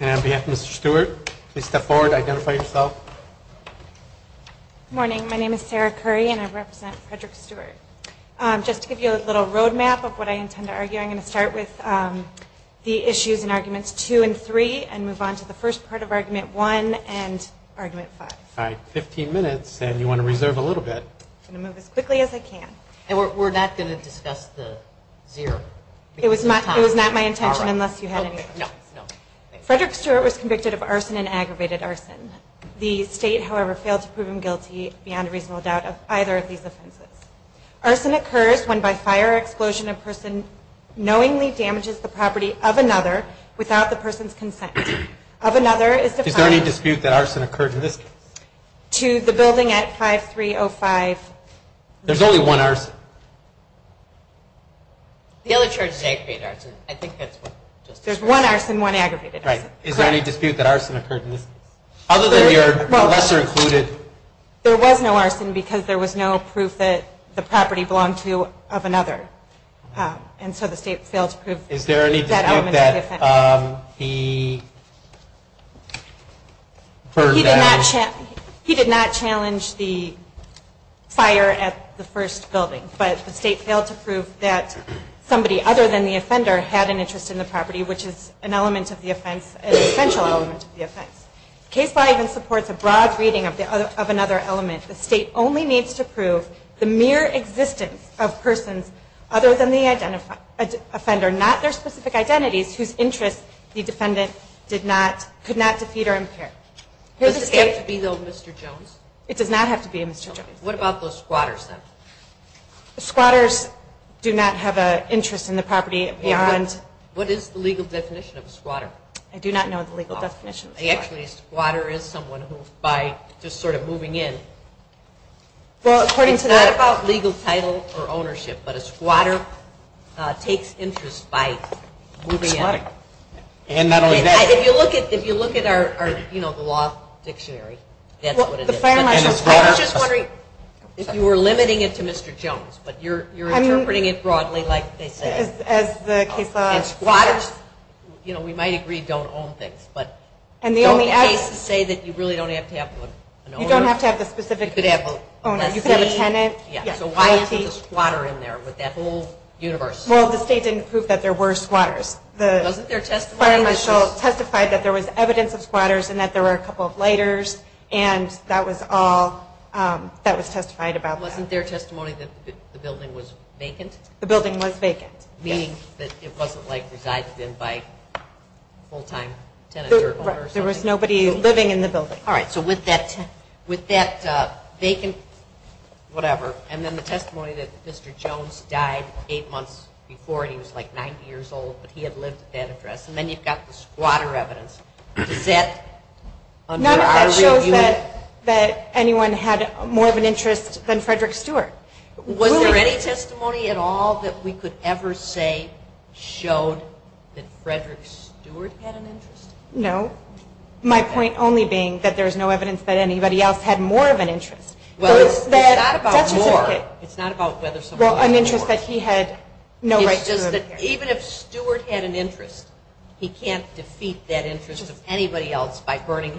and on behalf of Mr. Stewart, please step forward and identify yourself. Good morning, my name is Sarah Curry and I represent Frederick Stewart. Just to give you a little road map of what I intend to argue, I'm going to start with the issues and arguments 2 and 3 and move on to the first part of argument 1 and argument 5. All right, 15 minutes and you want to reserve a little bit. I'm going to move as quickly as I can. And we're not going to discuss the zero. It was not my intention unless you had any. Frederick Stewart was convicted of arson and aggravated arson. The state, however, failed to prove him guilty beyond a reasonable doubt of either of these offenses. Arson occurs when by fire or explosion a person knowingly damages the property of another without the person's consent. Is there any dispute that arson occurred in this case? To the building at 5305. There's only one arson. The other charge is aggravated arson. There's one arson and one aggravated arson. Is there any dispute that arson occurred in this case? There was no arson because there was no proof that the property belonged to of another. And so the state failed to prove that element of the offense. Is there any dispute that he burned down? He did not challenge the fire at the first building. But the state failed to prove that somebody other than the offender had an interest in the property, which is an element of the offense, an essential element of the offense. Case 5 even supports a broad reading of another element. The state only needs to prove the mere existence of persons other than the offender, not their specific identities, whose interests the defendant could not defeat or impair. Does this have to be, though, Mr. Jones? It does not have to be Mr. Jones. What about the squatters, then? The squatters do not have an interest in the property beyond. What is the legal definition of a squatter? I do not know the legal definition of a squatter. Actually, a squatter is someone who, by just sort of moving in, it's not about legal title or ownership, but a squatter takes interest by moving in. And not only that. If you look at our, you know, the law dictionary, that's what it is. I was just wondering if you were limiting it to Mr. Jones, but you're interpreting it broadly like they say. As the case of squatters, you know, we might agree don't own things. But don't the cases say that you really don't have to have an owner? You don't have to have the specific owner. You could have a tenant. So why isn't a squatter in there with that whole universe? Well, the state didn't prove that there were squatters. Wasn't there testimony? The fire marshal testified that there was evidence of squatters and that there were a couple of lighters, and that was all that was testified about. Wasn't there testimony that the building was vacant? The building was vacant, yes. It wasn't, like, resided in by a full-time tenant. There was nobody living in the building. All right. So with that vacant whatever, and then the testimony that Mr. Jones died eight months before, and he was, like, 90 years old, but he had lived at that address, and then you've got the squatter evidence. Does that show that anyone had more of an interest than Frederick Stewart? Was there any testimony at all that we could ever say showed that Frederick Stewart had an interest? No. My point only being that there's no evidence that anybody else had more of an interest. Well, it's not about more. It's not about whether somebody had more. Well, an interest that he had no right to. It's just that even if Stewart had an interest, he can't defeat that interest of anybody else by burning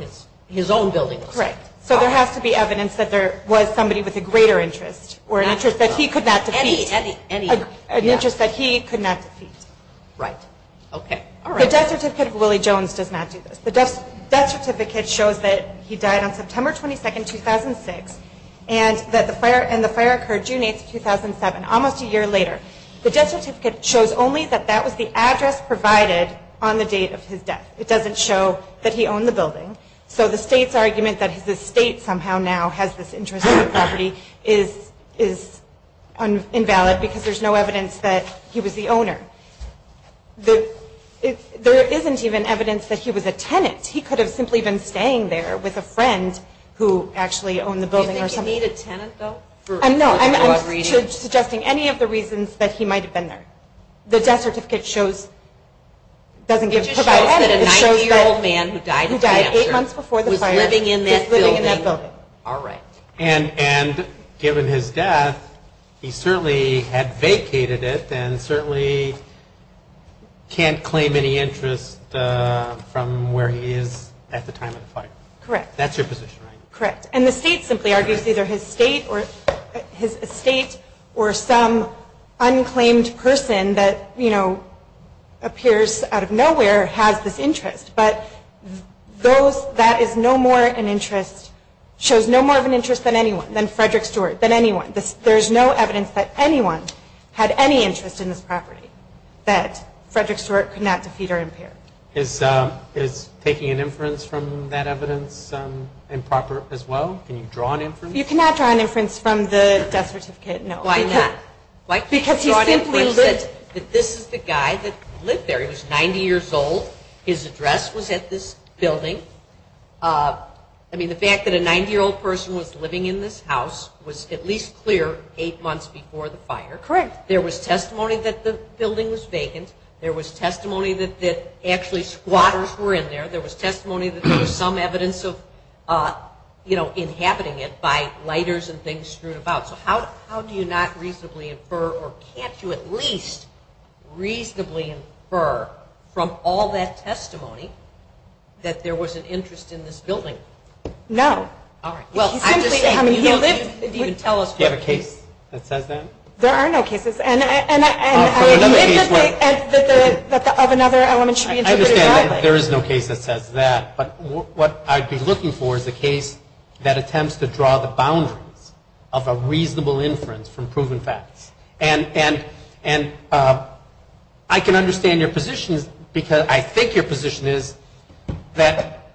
his own building. Correct. So there has to be evidence that there was somebody with a greater interest or an interest that he could not defeat. Any. An interest that he could not defeat. Right. Okay. The death certificate of Willie Jones does not do this. The death certificate shows that he died on September 22, 2006, and the fire occurred June 8, 2007, almost a year later. The death certificate shows only that that was the address provided on the date of his death. It doesn't show that he owned the building. So the state's argument that the state somehow now has this interest in the property is invalid because there's no evidence that he was the owner. There isn't even evidence that he was a tenant. He could have simply been staying there with a friend who actually owned the building. Do you think he made a tenant, though? No, I'm not suggesting any of the reasons that he might have been there. The death certificate shows, doesn't give, It shows that a 90-year-old man who died eight months before the fire was living in that building. All right. And given his death, he certainly had vacated it and certainly can't claim any interest from where he is at the time of the fire. Correct. That's your position, right? Correct. And the state simply argues either his estate or some unclaimed person that, you know, appears out of nowhere, has this interest. But that is no more an interest, shows no more of an interest than anyone, than Frederick Stewart, than anyone. There's no evidence that anyone had any interest in this property, that Frederick Stewart could not defeat or impair. Is taking an inference from that evidence improper as well? Can you draw an inference? You cannot draw an inference from the death certificate, no. Why not? Why can't you draw an inference that this is the guy that lived there? He was 90 years old. His address was at this building. I mean, the fact that a 90-year-old person was living in this house was at least clear eight months before the fire. Correct. There was testimony that the building was vacant. There was testimony that actually squatters were in there. There was testimony that there was some evidence of, you know, inhabiting it by lighters and things strewn about. So how do you not reasonably infer, or can't you at least reasonably infer, from all that testimony that there was an interest in this building? No. All right. Well, I'm just saying, you don't even tell us. Do you have a case that says that? There are no cases. And I would live to say that another element should be interpreted that way. I understand that there is no case that says that. But what I'd be looking for is a case that attempts to draw the boundaries of a reasonable inference from proven facts. And I can understand your position because I think your position is that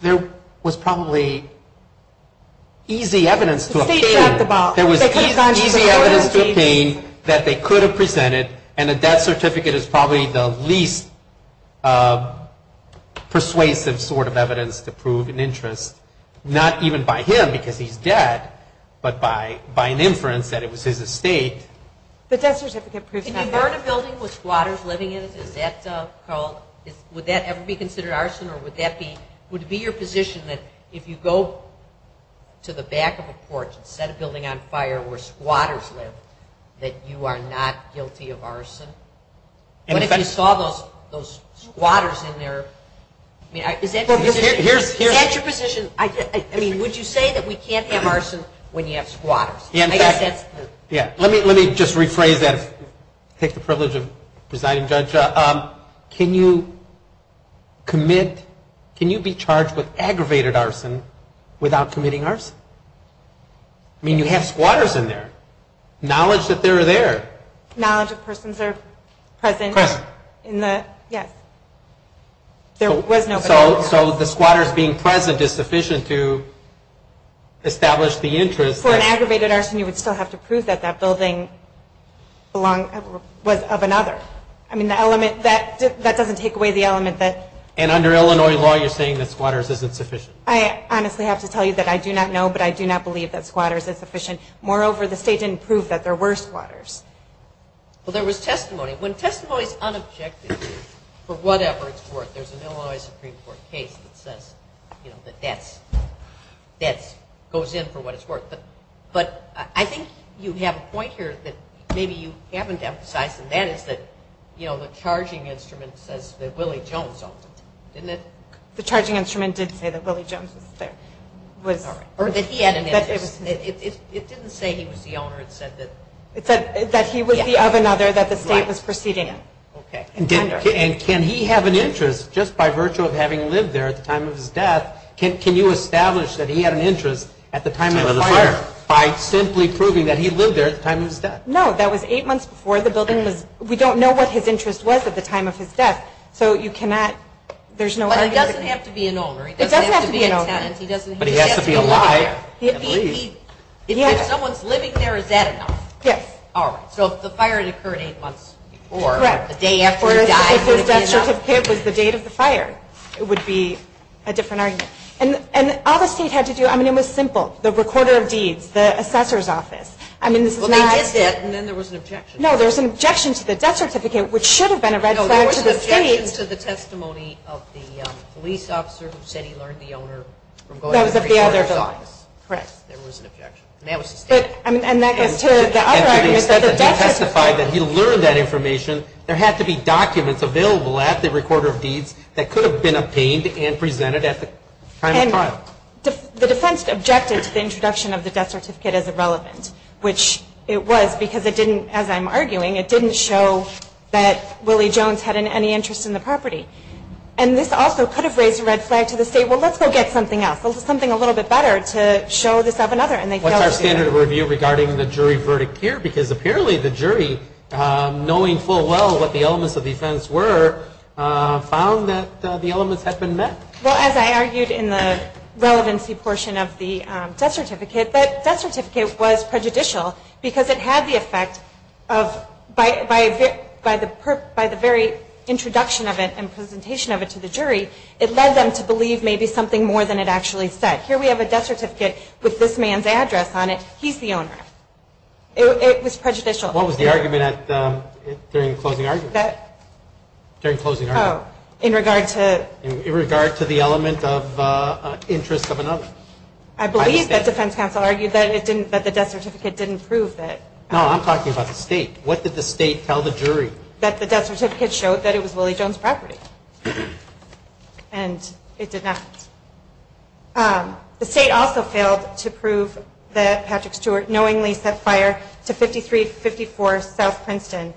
there was probably easy evidence to obtain. There was easy evidence to obtain that they could have presented, and a death certificate is probably the least persuasive sort of evidence to prove an interest, not even by him because he's dead, but by an inference that it was his estate. The death certificate proves not dead. In a building with squatters living in it, is that called, would that ever be considered arson? Or would that be, would it be your position that if you go to the back of a porch instead of building on fire where squatters live, that you are not guilty of arson? What if you saw those squatters in there? Is that your position? Would you say that we can't have arson when you have squatters? Let me just rephrase that, take the privilege of presiding judge. Judge, can you commit, can you be charged with aggravated arson without committing arson? I mean, you have squatters in there. Knowledge that they're there. Knowledge that persons are present in the, yes. So the squatters being present is sufficient to establish the interest. For an aggravated arson, you would still have to prove that that building was of another. I mean, the element, that doesn't take away the element that. And under Illinois law, you're saying that squatters isn't sufficient. I honestly have to tell you that I do not know, but I do not believe that squatters is sufficient. Moreover, the state didn't prove that there were squatters. Well, there was testimony. When testimony is unobjective for whatever it's worth, there's an Illinois Supreme Court case that says, you know, that that's, that goes in for what it's worth. But I think you have a point here that maybe you haven't emphasized, and that is that, you know, the charging instrument says that Willie Jones owned it, didn't it? The charging instrument did say that Willie Jones was there. Or that he had an interest. It didn't say he was the owner. It said that. It said that he would be of another that the state was proceeding in. Okay. And can he have an interest just by virtue of having lived there at the time of his death? Can you establish that he had an interest at the time of the fire by simply proving that he lived there at the time of his death? No. That was eight months before the building was, we don't know what his interest was at the time of his death. So you cannot, there's no argument. But it doesn't have to be an owner. It doesn't have to be an owner. It doesn't have to be a tenant. But he has to be alive. If someone's living there, is that enough? Yes. So if the fire had occurred eight months before, the day after he died would it be enough? Correct. If his death certificate was the date of the fire, it would be a different argument. And all the state had to do, I mean, it was simple. The recorder of deeds, the assessor's office. Well, they did that and then there was an objection. No, there was an objection to the death certificate, which should have been a red flag to the state. No, there was an objection to the testimony of the police officer who said he learned the owner from going to the recorder's office. Correct. There was an objection. And that was the state. And that goes to the other argument that the death certificate. And to the extent that he testified that he learned that information, there had to be documents available at the recorder of deeds that could have been obtained and presented at the time of the fire. The defense objected to the introduction of the death certificate as irrelevant, which it was because it didn't, as I'm arguing, it didn't show that Willie Jones had any interest in the property. And this also could have raised a red flag to the state. Well, let's go get something else, something a little bit better to show this up another. What's our standard of review regarding the jury verdict here? Because apparently the jury, knowing full well what the elements of the offense were, found that the elements had been met. Well, as I argued in the relevancy portion of the death certificate, that death certificate was prejudicial because it had the effect of, by the very introduction of it and presentation of it to the jury, it led them to believe maybe something more than it actually said. Here we have a death certificate with this man's address on it. He's the owner. It was prejudicial. What was the argument during the closing argument? During the closing argument? In regard to? In regard to the element of interest of another. I believe that defense counsel argued that the death certificate didn't prove that. No, I'm talking about the state. What did the state tell the jury? That the death certificate showed that it was Willie Jones' property. And it did not. The state also failed to prove that Patrick Stewart knowingly set fire to 5354 South Princeton,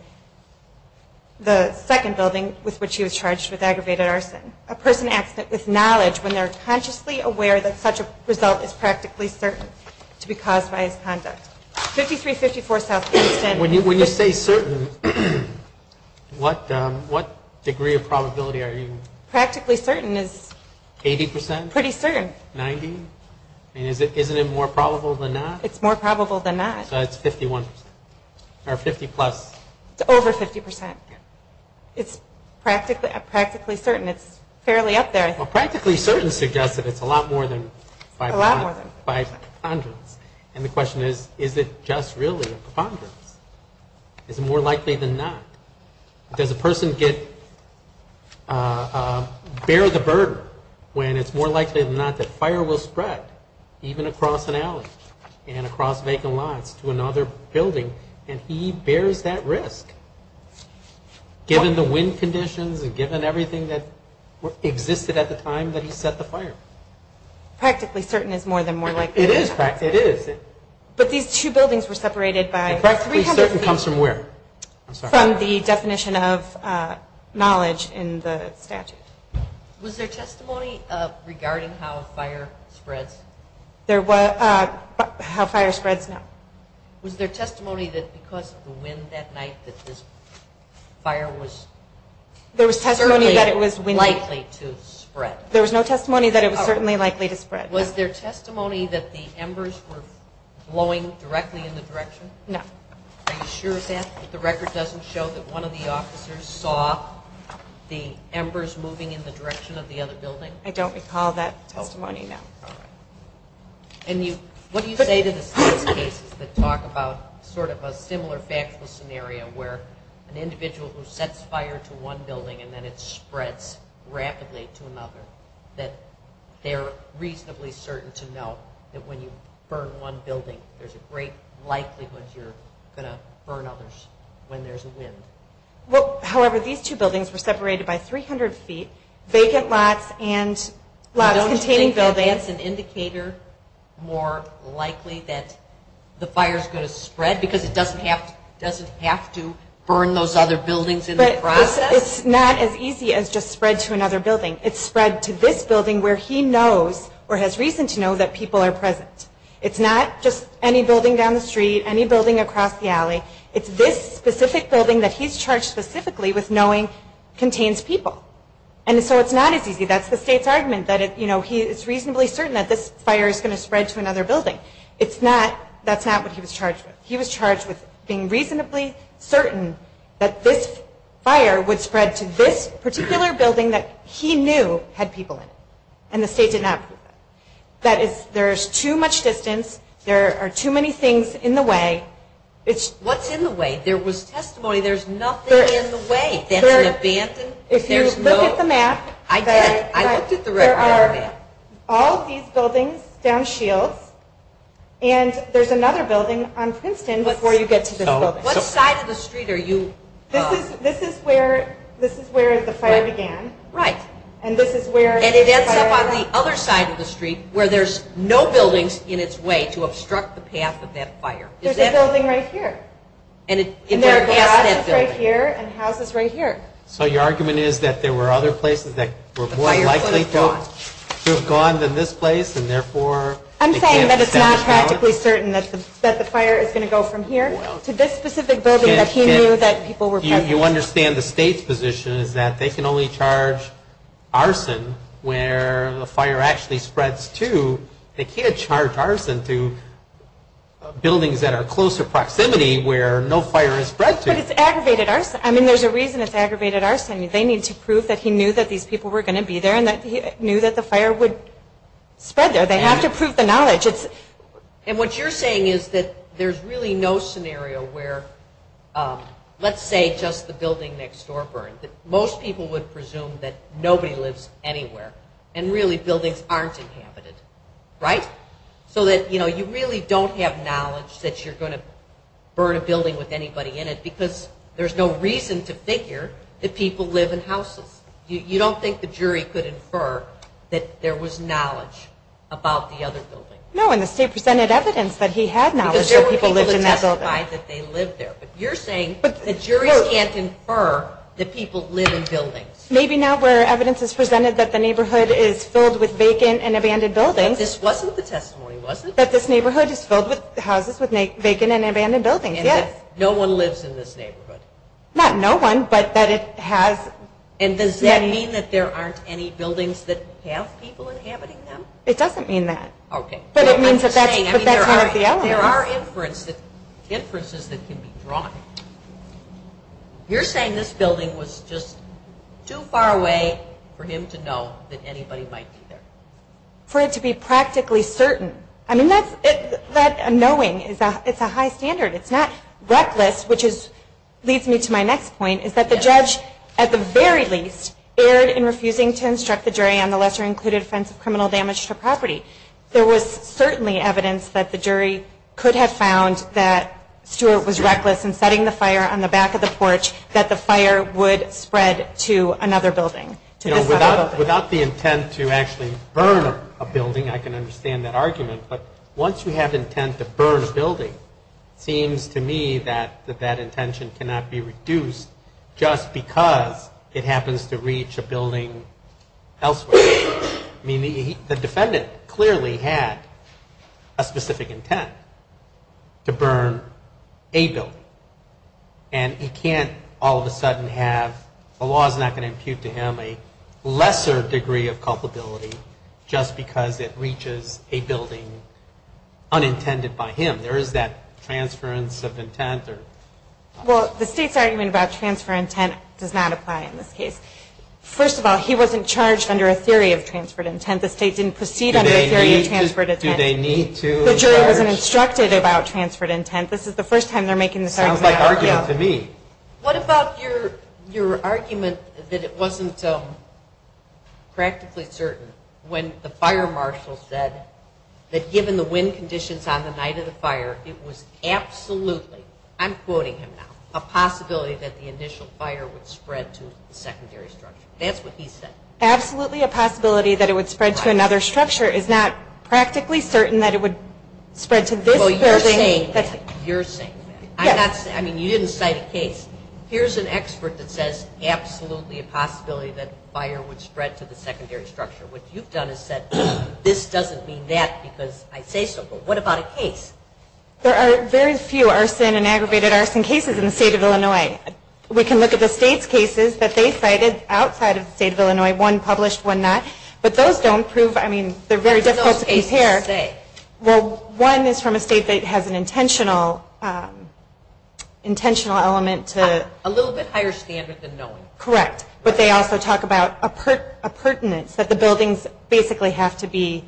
the second building with which he was charged with aggravated arson. A person acts with knowledge when they're consciously aware that such a result is practically certain to be caused by his conduct. 5354 South Princeton. When you say certain, what degree of probability are you? Practically certain is? Eighty percent? Pretty certain. Ninety? I mean, isn't it more probable than not? It's more probable than not. It's 51 percent. Or 50 plus. It's over 50 percent. It's practically certain. It's fairly up there, I think. Practically certain suggests that it's a lot more than 500. And the question is, is it just really a preponderance? Is it more likely than not? Does a person bear the burden when it's more likely than not that fire will spread, even across an alley and across vacant lots to another building, and he bears that risk, given the wind conditions and given everything that existed at the time that he set the fire? Practically certain is more than more likely. It is practically. It is. But these two buildings were separated by three companies. And practically certain comes from where? From the definition of knowledge in the statute. Was there testimony regarding how a fire spreads? How a fire spreads, no. Was there testimony that because of the wind that night that this fire was certainly likely to spread? There was no testimony that it was certainly likely to spread. Was there testimony that the embers were blowing directly in the direction? No. Are you sure of that? That the record doesn't show that one of the officers saw the embers moving in the direction of the other building? I don't recall that testimony, no. All right. And what do you say to the case that talk about sort of a similar factual scenario where an individual who sets fire to one building and then it spreads rapidly to another, that they're reasonably certain to know that when you burn one building, there's a great likelihood you're going to burn others when there's a wind? Well, however, these two buildings were separated by 300 feet, vacant lots and lots containing buildings. You don't think that's an indicator more likely that the fire is going to spread because it doesn't have to burn those other buildings in the process? It's not as easy as just spread to another building. It's spread to this building where he knows or has reason to know that people are present. It's not just any building down the street, any building across the alley. It's this specific building that he's charged specifically with knowing contains people. And so it's not as easy. That's the state's argument that it's reasonably certain that this fire is going to spread to another building. That's not what he was charged with. He was charged with being reasonably certain that this fire would spread to this particular building that he knew had people in it, and the state did not prove that. There's too much distance. There are too many things in the way. What's in the way? There was testimony there's nothing in the way. If you look at the map, there are all these buildings down Shields, and there's another building on Princeton before you get to this building. What side of the street are you? This is where the fire began. Right. And it ends up on the other side of the street where there's no buildings in its way to obstruct the path of that fire. There's a building right here. And houses right here. So your argument is that there were other places that were more likely to have gone than this place, and therefore they can't establish balance? I'm saying that it's not practically certain that the fire is going to go from here to this specific building that he knew that people were present in. The way you understand the state's position is that they can only charge arson where the fire actually spreads to. They can't charge arson to buildings that are close to proximity where no fire has spread to. But it's aggravated arson. I mean, there's a reason it's aggravated arson. They need to prove that he knew that these people were going to be there and that he knew that the fire would spread there. They have to prove the knowledge. And what you're saying is that there's really no scenario where, let's say, just the building next door burned, that most people would presume that nobody lives anywhere and really buildings aren't inhabited, right? So that, you know, you really don't have knowledge that you're going to burn a building with anybody in it because there's no reason to figure that people live in houses. You don't think the jury could infer that there was knowledge about the other building? No, and the state presented evidence that he had knowledge that people lived in that building. Because there were people who testified that they lived there. But you're saying that juries can't infer that people live in buildings. Maybe not where evidence is presented that the neighborhood is filled with vacant and abandoned buildings. But this wasn't the testimony, was it? That this neighborhood is filled with houses with vacant and abandoned buildings, yes. And that no one lives in this neighborhood. Not no one, but that it has. And does that mean that there aren't any buildings that have people inhabiting them? It doesn't mean that. Okay. But it means that that's one of the elements. There are inferences that can be drawn. You're saying this building was just too far away for him to know that anybody might be there. For it to be practically certain. I mean, that knowing, it's a high standard. It's not reckless, which leads me to my next point, is that the judge, at the very least, erred in refusing to instruct the jury on the lesser-included offense of criminal damage to property. There was certainly evidence that the jury could have found that Stuart was reckless in setting the fire on the back of the porch, that the fire would spread to another building. Without the intent to actually burn a building, I can understand that argument. But once you have intent to burn a building, it seems to me that that intention cannot be reduced just because it happens to reach a building elsewhere. I mean, the defendant clearly had a specific intent to burn a building. And he can't all of a sudden have, the law is not going to impute to him a lesser degree of culpability just because it reaches a building unintended by him. There is that transference of intent. Well, the state's argument about transfer intent does not apply in this case. First of all, he wasn't charged under a theory of transferred intent. The state didn't proceed under a theory of transferred intent. Do they need to? The jury wasn't instructed about transferred intent. This is the first time they're making this argument. Sounds like argument to me. What about your argument that it wasn't practically certain when the fire marshal said that given the wind conditions on the night of the fire, it was absolutely, I'm quoting him now, a possibility that the initial fire would spread to the secondary structure. That's what he said. Absolutely a possibility that it would spread to another structure. It's not practically certain that it would spread to this building. Well, you're saying that. You're saying that. You didn't cite a case. Here's an expert that says absolutely a possibility that fire would spread to the secondary structure. What you've done is said this doesn't mean that because I say so, but what about a case? There are very few arson and aggravated arson cases in the state of Illinois. We can look at the state's cases that they cited outside of the state of Illinois, one published, one not, but those don't prove, I mean, they're very difficult to compare. What do those cases say? Well, one is from a state that has an intentional element to. A little bit higher standard than knowing. Correct, but they also talk about a pertinence, that the buildings basically have to be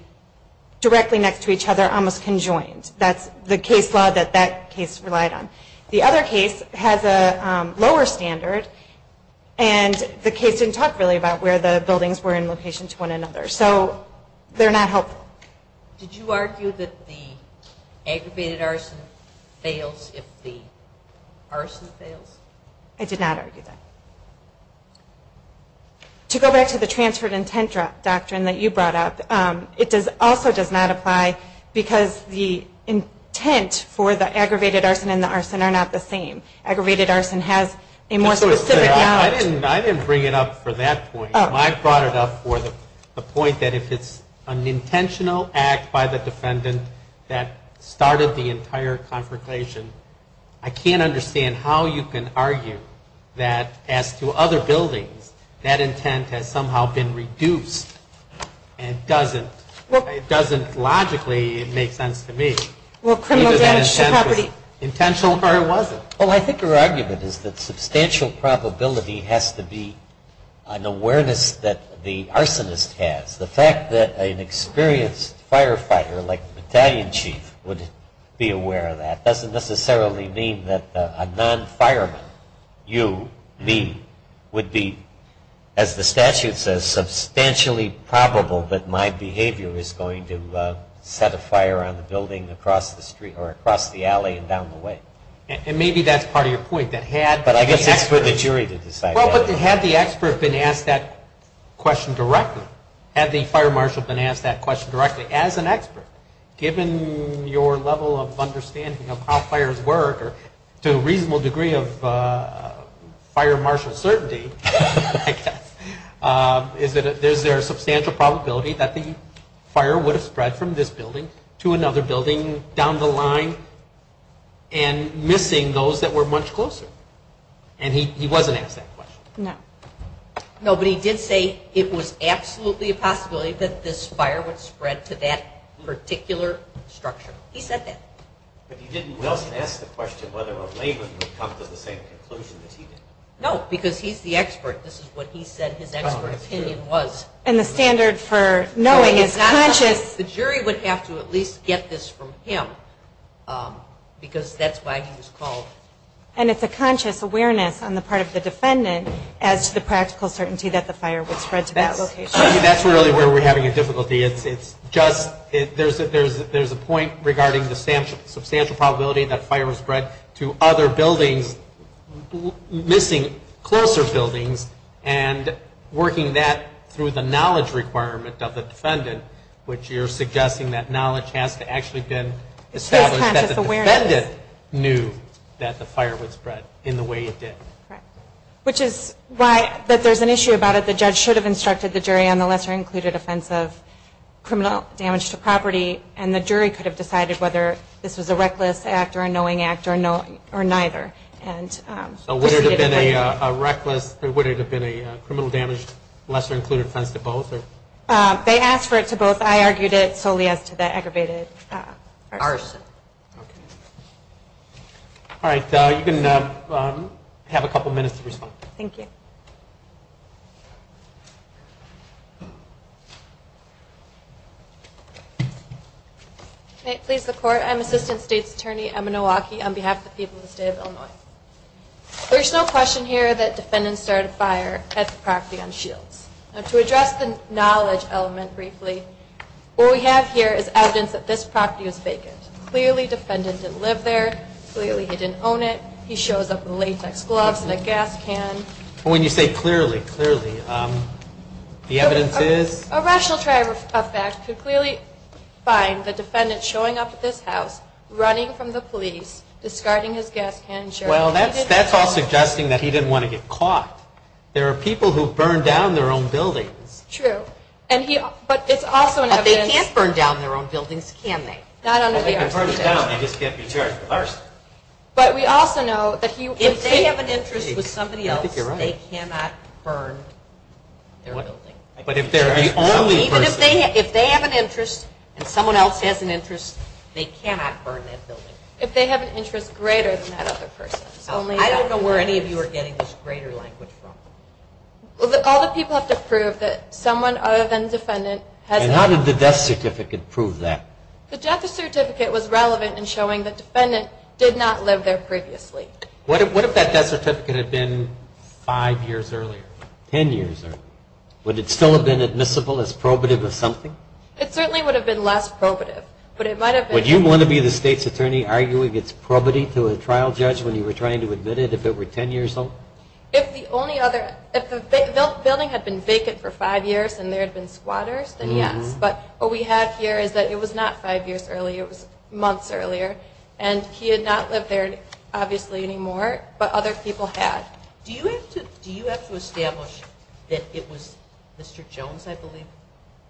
directly next to each other, almost conjoined. That's the case law that that case relied on. The other case has a lower standard, and the case didn't talk really about where the buildings were in location to one another. So they're not helpful. Did you argue that the aggravated arson fails if the arson fails? I did not argue that. To go back to the transferred intent doctrine that you brought up, it also does not apply because the intent for the aggravated arson and the arson are not the same. Aggravated arson has a more specific knowledge. I didn't bring it up for that point. I brought it up for the point that if it's an intentional act by the defendant that started the entire confrontation, I can't understand how you can argue that as to other buildings, that intent has somehow been reduced and doesn't logically make sense to me. Either that intent was intentional or it wasn't. Well, I think your argument is that substantial probability has to be an awareness that the arsonist has. The fact that an experienced firefighter like the battalion chief would be aware of that doesn't necessarily mean that a non-fireman, you, me, would be, as the statute says, substantially probable that my behavior is going to set a fire on the building across the street or across the alley and down the way. And maybe that's part of your point. But I guess it's for the jury to decide. Well, but had the expert been asked that question directly, had the fire marshal been asked that question directly as an expert, given your level of understanding of how fires work or to a reasonable degree of fire marshal certainty, I guess, is there a substantial probability that the fire would have spread from this building to another building down the line and missing those that were much closer? And he wasn't asked that question. No. No, but he did say it was absolutely a possibility that this fire would spread to that particular structure. He said that. But he didn't ask the question whether a layman would come to the same conclusion as he did. No, because he's the expert. This is what he said his expert opinion was. And the standard for knowing is conscious. The jury would have to at least get this from him because that's why he was called. And it's a conscious awareness on the part of the defendant as to the practical certainty that the fire would spread to that location. I mean, that's really where we're having a difficulty. It's just there's a point regarding the substantial probability that fire would spread to other buildings, missing closer buildings, and working that through the knowledge requirement of the defendant, which you're suggesting that knowledge has to actually have been established that the defendant knew that the fire would spread in the way it did. Correct. Which is why that there's an issue about it. The judge should have instructed the jury on the lesser included offense of criminal damage to property, and the jury could have decided whether this was a reckless act or a knowing act or neither. So would it have been a reckless, would it have been a criminal damage lesser included offense to both? They asked for it to both. I argued it solely as to the aggravated arson. Okay. All right. You can have a couple minutes to respond. Thank you. May it please the Court. I'm Assistant State's Attorney Emma Nowacki on behalf of the people of the State of Illinois. There is no question here that defendants started a fire at the property on Shields. Now, to address the knowledge element briefly, what we have here is evidence that this property was vacant. Clearly, defendant didn't live there. Clearly, he didn't own it. He shows up in latex gloves and a gas can. When you say clearly, clearly, the evidence is? A rational try of fact could clearly find the defendant showing up at this house, running from the police, discarding his gas can and shirt. Well, that's all suggesting that he didn't want to get caught. There are people who burn down their own buildings. True. But it's also an evidence. But they can't burn down their own buildings, can they? Not under the arson charge. Well, they can burn it down. They just can't be charged with arson. But we also know that if they have an interest with somebody else, they cannot burn their building. But if they're the only person. Even if they have an interest and someone else has an interest, they cannot burn that building. If they have an interest greater than that other person. I don't know where any of you are getting this greater language from. All the people have to prove that someone other than the defendant has an interest. And how did the death certificate prove that? The death certificate was relevant in showing the defendant did not live there previously. What if that death certificate had been five years earlier? Ten years earlier. Would it still have been admissible as probative of something? It certainly would have been less probative. Would you want to be the state's attorney arguing it's probative to a trial judge when you were trying to admit it if it were ten years old? If the building had been vacant for five years and there had been squatters, then yes. But what we have here is that it was not five years earlier. It was months earlier. And he had not lived there, obviously, anymore. But other people had. Do you have to establish that it was Mr. Jones, I believe?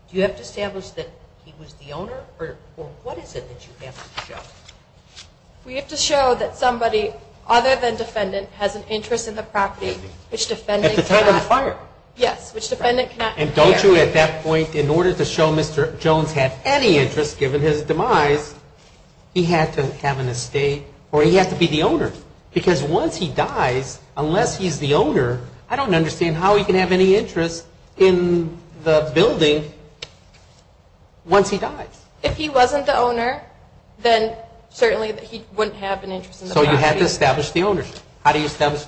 Do you have to establish that he was the owner? Or what is it that you have to show? We have to show that somebody other than defendant has an interest in the property which defendant cannot. At the time of the fire. Yes, which defendant cannot. And don't you at that point, in order to show Mr. Jones had any interest given his demise, Because once he dies, unless he's the owner, I don't understand how he can have any interest in the building once he dies. If he wasn't the owner, then certainly he wouldn't have an interest in the property. So you have to establish the ownership. How did you establish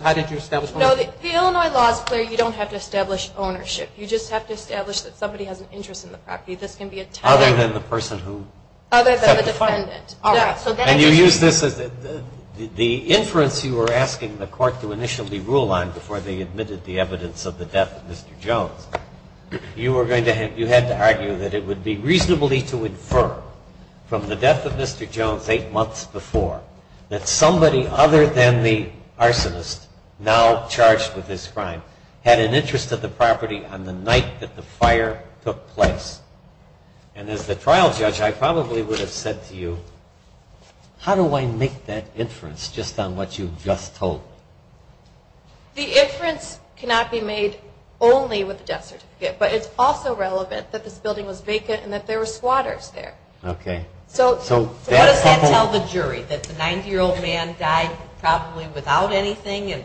ownership? No, the Illinois law is clear. You don't have to establish ownership. You just have to establish that somebody has an interest in the property. Other than the person who? Other than the defendant. And you use this as the inference you were asking the court to initially rule on before they admitted the evidence of the death of Mr. Jones. You had to argue that it would be reasonably to infer from the death of Mr. Jones eight months before, that somebody other than the arsonist now charged with this crime had an interest in the property on the night that the fire took place. And as the trial judge, I probably would have said to you, how do I make that inference just on what you just told me? The inference cannot be made only with the death certificate. But it's also relevant that this building was vacant and that there were squatters there. Okay. So what does that tell the jury? That the 90-year-old man died probably without anything, and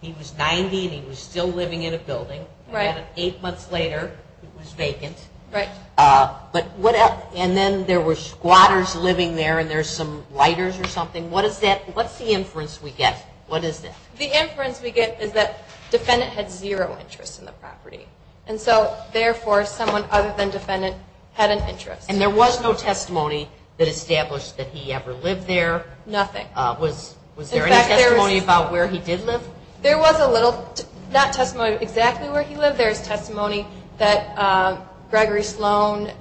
he was 90 and he was still living in a building, and then eight months later it was vacant. Right. But what else? And then there were squatters living there and there's some lighters or something. What is that? What's the inference we get? What is that? The inference we get is that defendant had zero interest in the property. And so, therefore, someone other than defendant had an interest. And there was no testimony that established that he ever lived there? Nothing. Was there any testimony about where he did live? There was a little. Not testimony exactly where he lived. There's testimony that Gregory Sloan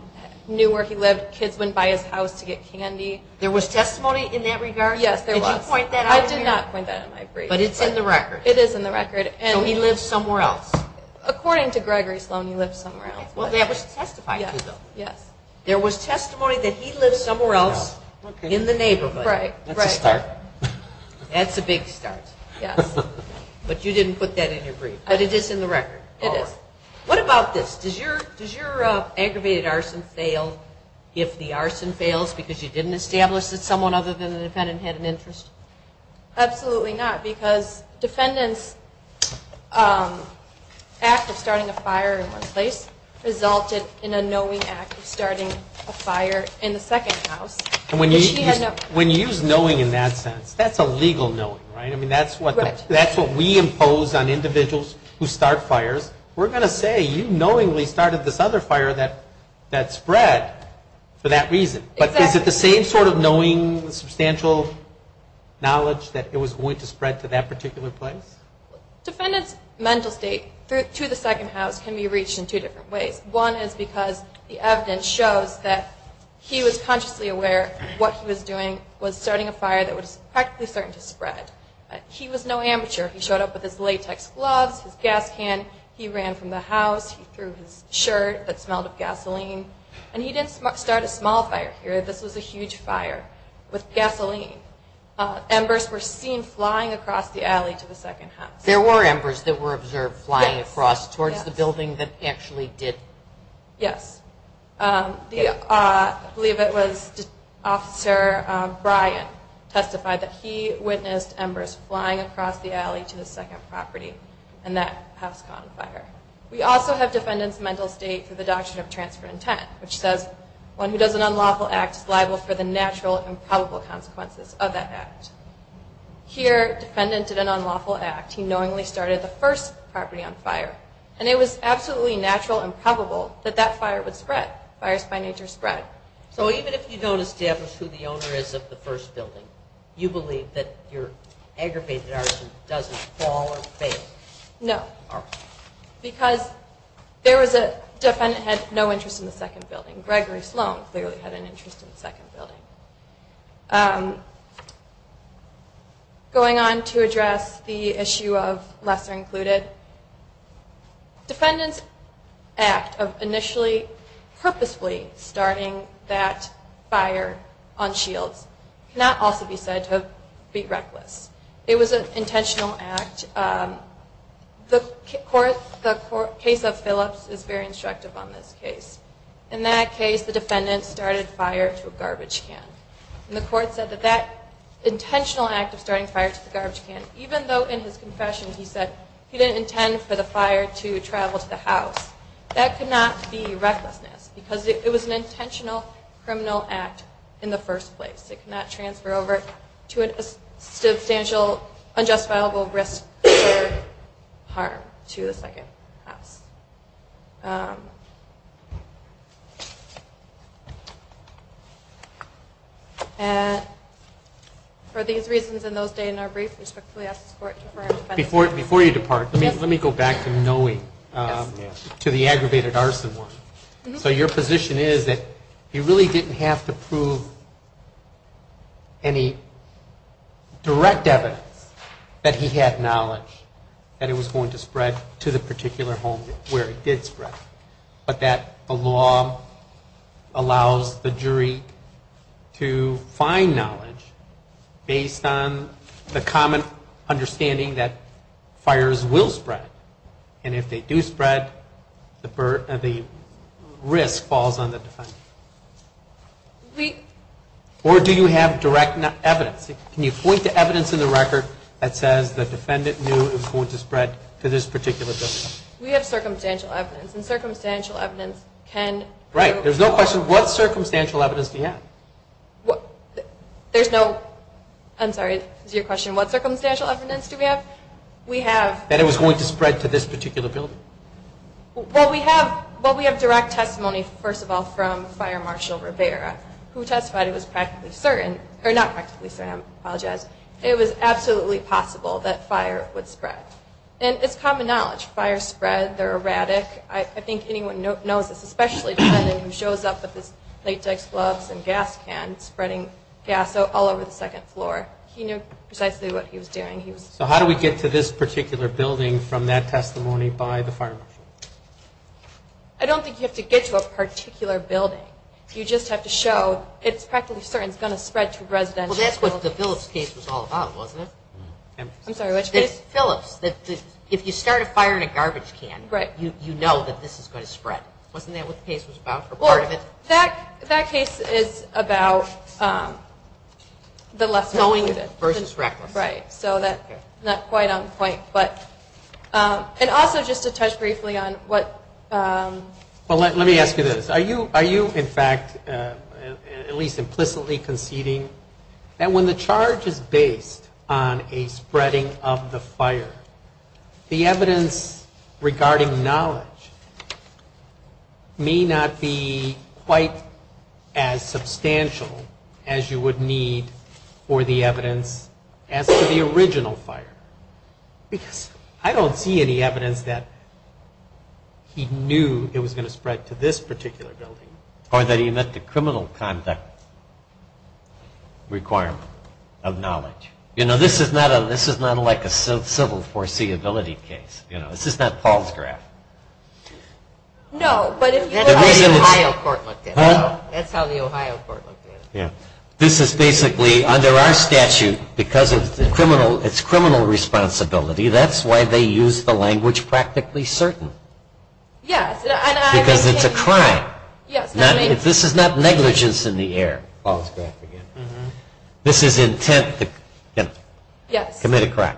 knew where he lived. Kids went by his house to get candy. There was testimony in that regard? Yes, there was. Could you point that out here? I did not point that out in my brief. But it's in the record. It is in the record. So he lived somewhere else? According to Gregory Sloan, he lived somewhere else. Well, that was testified to, though. Yes. There was testimony that he lived somewhere else in the neighborhood. Right. That's a start. That's a big start. Yes. But you didn't put that in your brief. But it is in the record? It is. All right. What about this? Does your aggravated arson fail if the arson fails because you didn't establish that someone other than the defendant had an interest? Absolutely not, because defendant's act of starting a fire in one place resulted in a knowing act of starting a fire in the second house. And when you use knowing in that sense, that's a legal knowing, right? Right. I mean, that's what we impose on individuals who start fires. We're going to say you knowingly started this other fire that spread for that reason. But is it the same sort of knowing, substantial knowledge that it was going to spread to that particular place? Defendant's mental state to the second house can be reached in two different ways. One is because the evidence shows that he was consciously aware what he was doing was starting a fire that was practically certain to spread. He was no amateur. He showed up with his latex gloves, his gas can. He ran from the house. He threw his shirt that smelled of gasoline. And he didn't start a small fire here. This was a huge fire with gasoline. Embers were seen flying across the alley to the second house. There were embers that were observed flying across towards the building that actually did? Yes. I believe it was Officer Brian testified that he witnessed embers flying across the alley to the second property and that house caught on fire. We also have defendant's mental state to the doctrine of transfer intent, which says one who does an unlawful act is liable for the natural and probable consequences of that act. Here, defendant did an unlawful act. He knowingly started the first property on fire. And it was absolutely natural and probable that that fire would spread. Fires by nature spread. So even if you don't establish who the owner is of the first building, you believe that your aggravated arson doesn't fall or fail? No. Because there was a defendant who had no interest in the second building. Gregory Sloan clearly had an interest in the second building. Going on to address the issue of lesser included, defendant's act of initially purposefully starting that fire on shields cannot also be said to be reckless. It was an intentional act. The case of Phillips is very instructive on this case. In that case, the defendant started fire to a garbage can. And the court said that that intentional act of starting fire to the garbage can, even though in his confession he said he didn't intend for the fire to travel to the house, that could not be recklessness. Because it was an intentional criminal act in the first place. It could not transfer over to a substantial unjustifiable risk or harm to the second house. For these reasons and those stated in our brief, we respectfully ask this court to defer our defense. Before you depart, let me go back to knowing, to the aggravated arson one. So your position is that he really didn't have to prove any direct evidence that he had knowledge that it was going to spread to the particular home where it did spread. But that the law allows the jury to find knowledge based on the common understanding that fires will spread. And if they do spread, the risk falls on the defendant. Or do you have direct evidence? Can you point to evidence in the record that says the defendant knew it was going to spread to this particular building? We have circumstantial evidence. And circumstantial evidence can... Right. There's no question. What circumstantial evidence do you have? There's no... I'm sorry. Is your question what circumstantial evidence do we have? We have... That it was going to spread to this particular building. Well, we have direct testimony, first of all, from Fire Marshal Rivera, who testified it was practically certain, or not practically certain, I apologize, it was absolutely possible that fire would spread. And it's common knowledge. Fires spread, they're erratic. I think anyone knows this, especially the defendant who shows up with his latex gloves and gas can spreading gas all over the second floor. He knew precisely what he was doing. So how do we get to this particular building from that testimony by the Fire Marshal? I don't think you have to get to a particular building. You just have to show it's practically certain it's going to spread to a residential building. Well, that's what the Phillips case was all about, wasn't it? I'm sorry, which case? Phillips. If you start a fire in a garbage can, you know that this is going to spread. Wasn't that what the case was about, or part of it? That case is about the less knowing versus reckless. Right. So that's not quite on point. And also, just to touch briefly on what... Well, let me ask you this. Are you, in fact, at least implicitly conceding that when the charge is based on a spreading of the fire, the evidence regarding knowledge may not be quite as substantial as you would need for the evidence as to the or that he met the criminal conduct requirement of knowledge? You know, this is not like a civil foreseeability case. This is not Paul's graph. No, but if you look at how the Ohio court looked at it, that's how the Ohio court looked at it. This is basically, under our statute, because it's criminal responsibility, that's why they use the language practically certain. Yes. Because it's a crime. Yes. This is not negligence in the air. Paul's graph again. This is intent to commit a crime.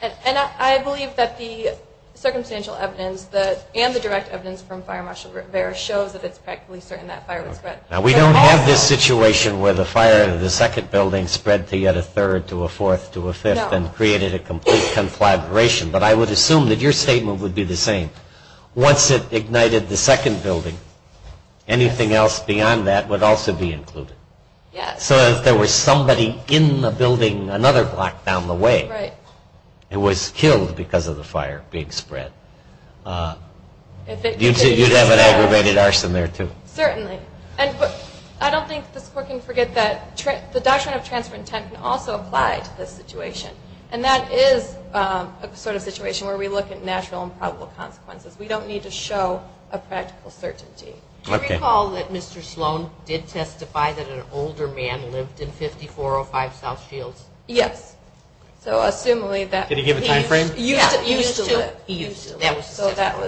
And I believe that the circumstantial evidence and the direct evidence from fire marshal Vera shows that it's practically certain that fire would spread. Now, we don't have this situation where the fire in the second building spread to yet a third, to a fourth, to a fifth, and created a complete conflagration. But I would assume that your statement would be the same. Once it ignited the second building, anything else beyond that would also be included. Yes. So if there was somebody in the building another block down the way, it was killed because of the fire being spread. You'd have an aggravated arson there, too. Certainly. And I don't think this court can forget that the doctrine of transfer of intent can also apply to this situation. And that is a sort of situation where we look at natural and probable consequences. We don't need to show a practical certainty. Do you recall that Mr. Sloan did testify that an older man lived in 5405 South Shields? Yes. So assuming that he used to live. Did he give a time frame? He used to live.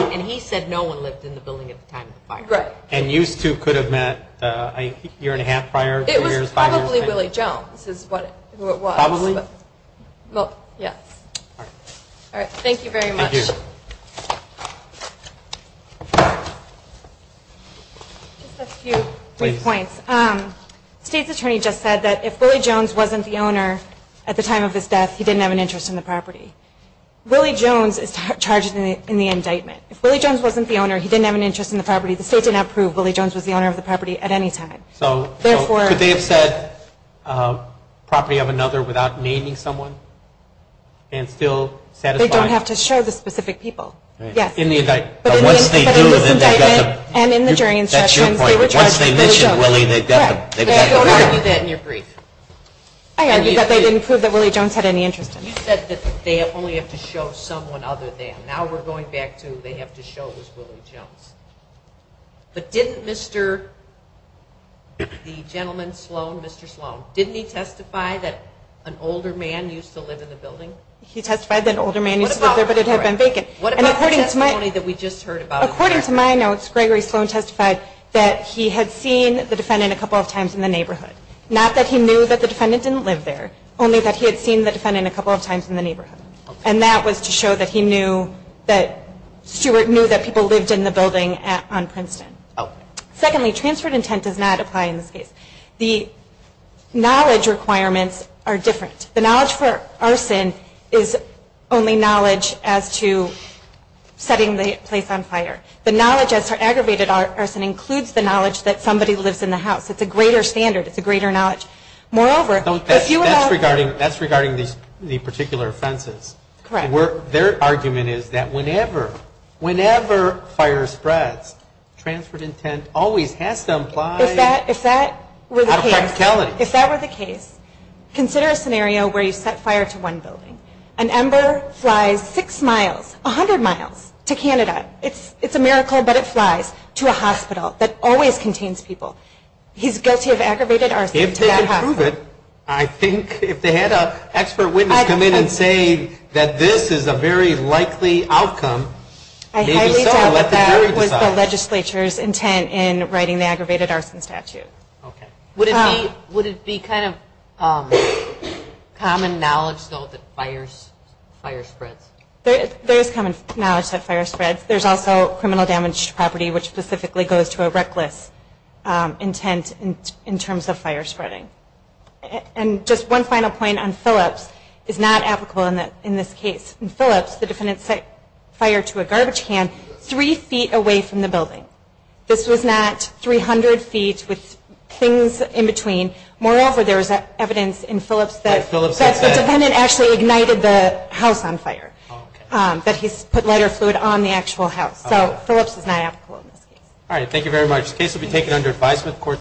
And he said no one lived in the building at the time of the fire. And used to could have met a year and a half prior, three years, five years? Probably Willie Jones is who it was. Probably? Yes. All right. Thank you very much. Thank you. Just a few quick points. The state's attorney just said that if Willie Jones wasn't the owner at the time of his death, he didn't have an interest in the property. Willie Jones is charged in the indictment. If Willie Jones wasn't the owner, he didn't have an interest in the property. The state did not prove Willie Jones was the owner of the property at any time. So could they have said property of another without naming someone and still satisfy? They don't have to show the specific people. Yes. In the indictment. But in the indictment and in the jury instructions, they were charged with Willie Jones. That's your point. But once they mentioned Willie, they've got to prove it. But I don't argue that in your brief. I argue that they didn't prove that Willie Jones had any interest in it. You said that they only have to show someone other than. Now we're going back to they have to show it was Willie Jones. But didn't Mr. the gentleman Sloan, Mr. Sloan, didn't he testify that an older man used to live in the building? He testified that an older man used to live there, but it had been vacant. What about the testimony that we just heard about? According to my notes, Gregory Sloan testified that he had seen the defendant a couple of times in the neighborhood. Not that he knew that the defendant didn't live there, only that he had seen the defendant a couple of times in the neighborhood. And that was to show that he knew that Stuart knew that people lived in the building on Princeton. Secondly, transferred intent does not apply in this case. The knowledge requirements are different. The knowledge for arson is only knowledge as to setting the place on fire. The knowledge as for aggravated arson includes the knowledge that somebody lives in the house. It's a greater standard. It's a greater knowledge. Moreover, if you have... That's regarding the particular offenses. Correct. Their argument is that whenever fire spreads, transferred intent always has to apply... If that were the case... Out of practicality. If that were the case, consider a scenario where you set fire to one building. An ember flies six miles, 100 miles to Canada. It's a miracle, but it flies to a hospital that always contains people. He's guilty of aggravated arson. If they can prove it, I think if they had an expert witness come in and say that this is a very likely outcome, maybe so, and let the jury decide. I highly doubt that that was the legislature's intent in writing the aggravated arson statute. Okay. Would it be kind of common knowledge, though, that fire spreads? There is common knowledge that fire spreads. There's also criminal damage to property, which specifically goes to a reckless intent in terms of fire spreading. And just one final point on Phillips is not applicable in this case. In Phillips, the defendant set fire to a garbage can three feet away from the building. This was not 300 feet with things in between. Moreover, there was evidence in Phillips that the defendant actually ignited the house on fire, that he put lighter fluid on the actual house. So Phillips is not applicable in this case. All right. Thank you very much. This case will be taken under advisement.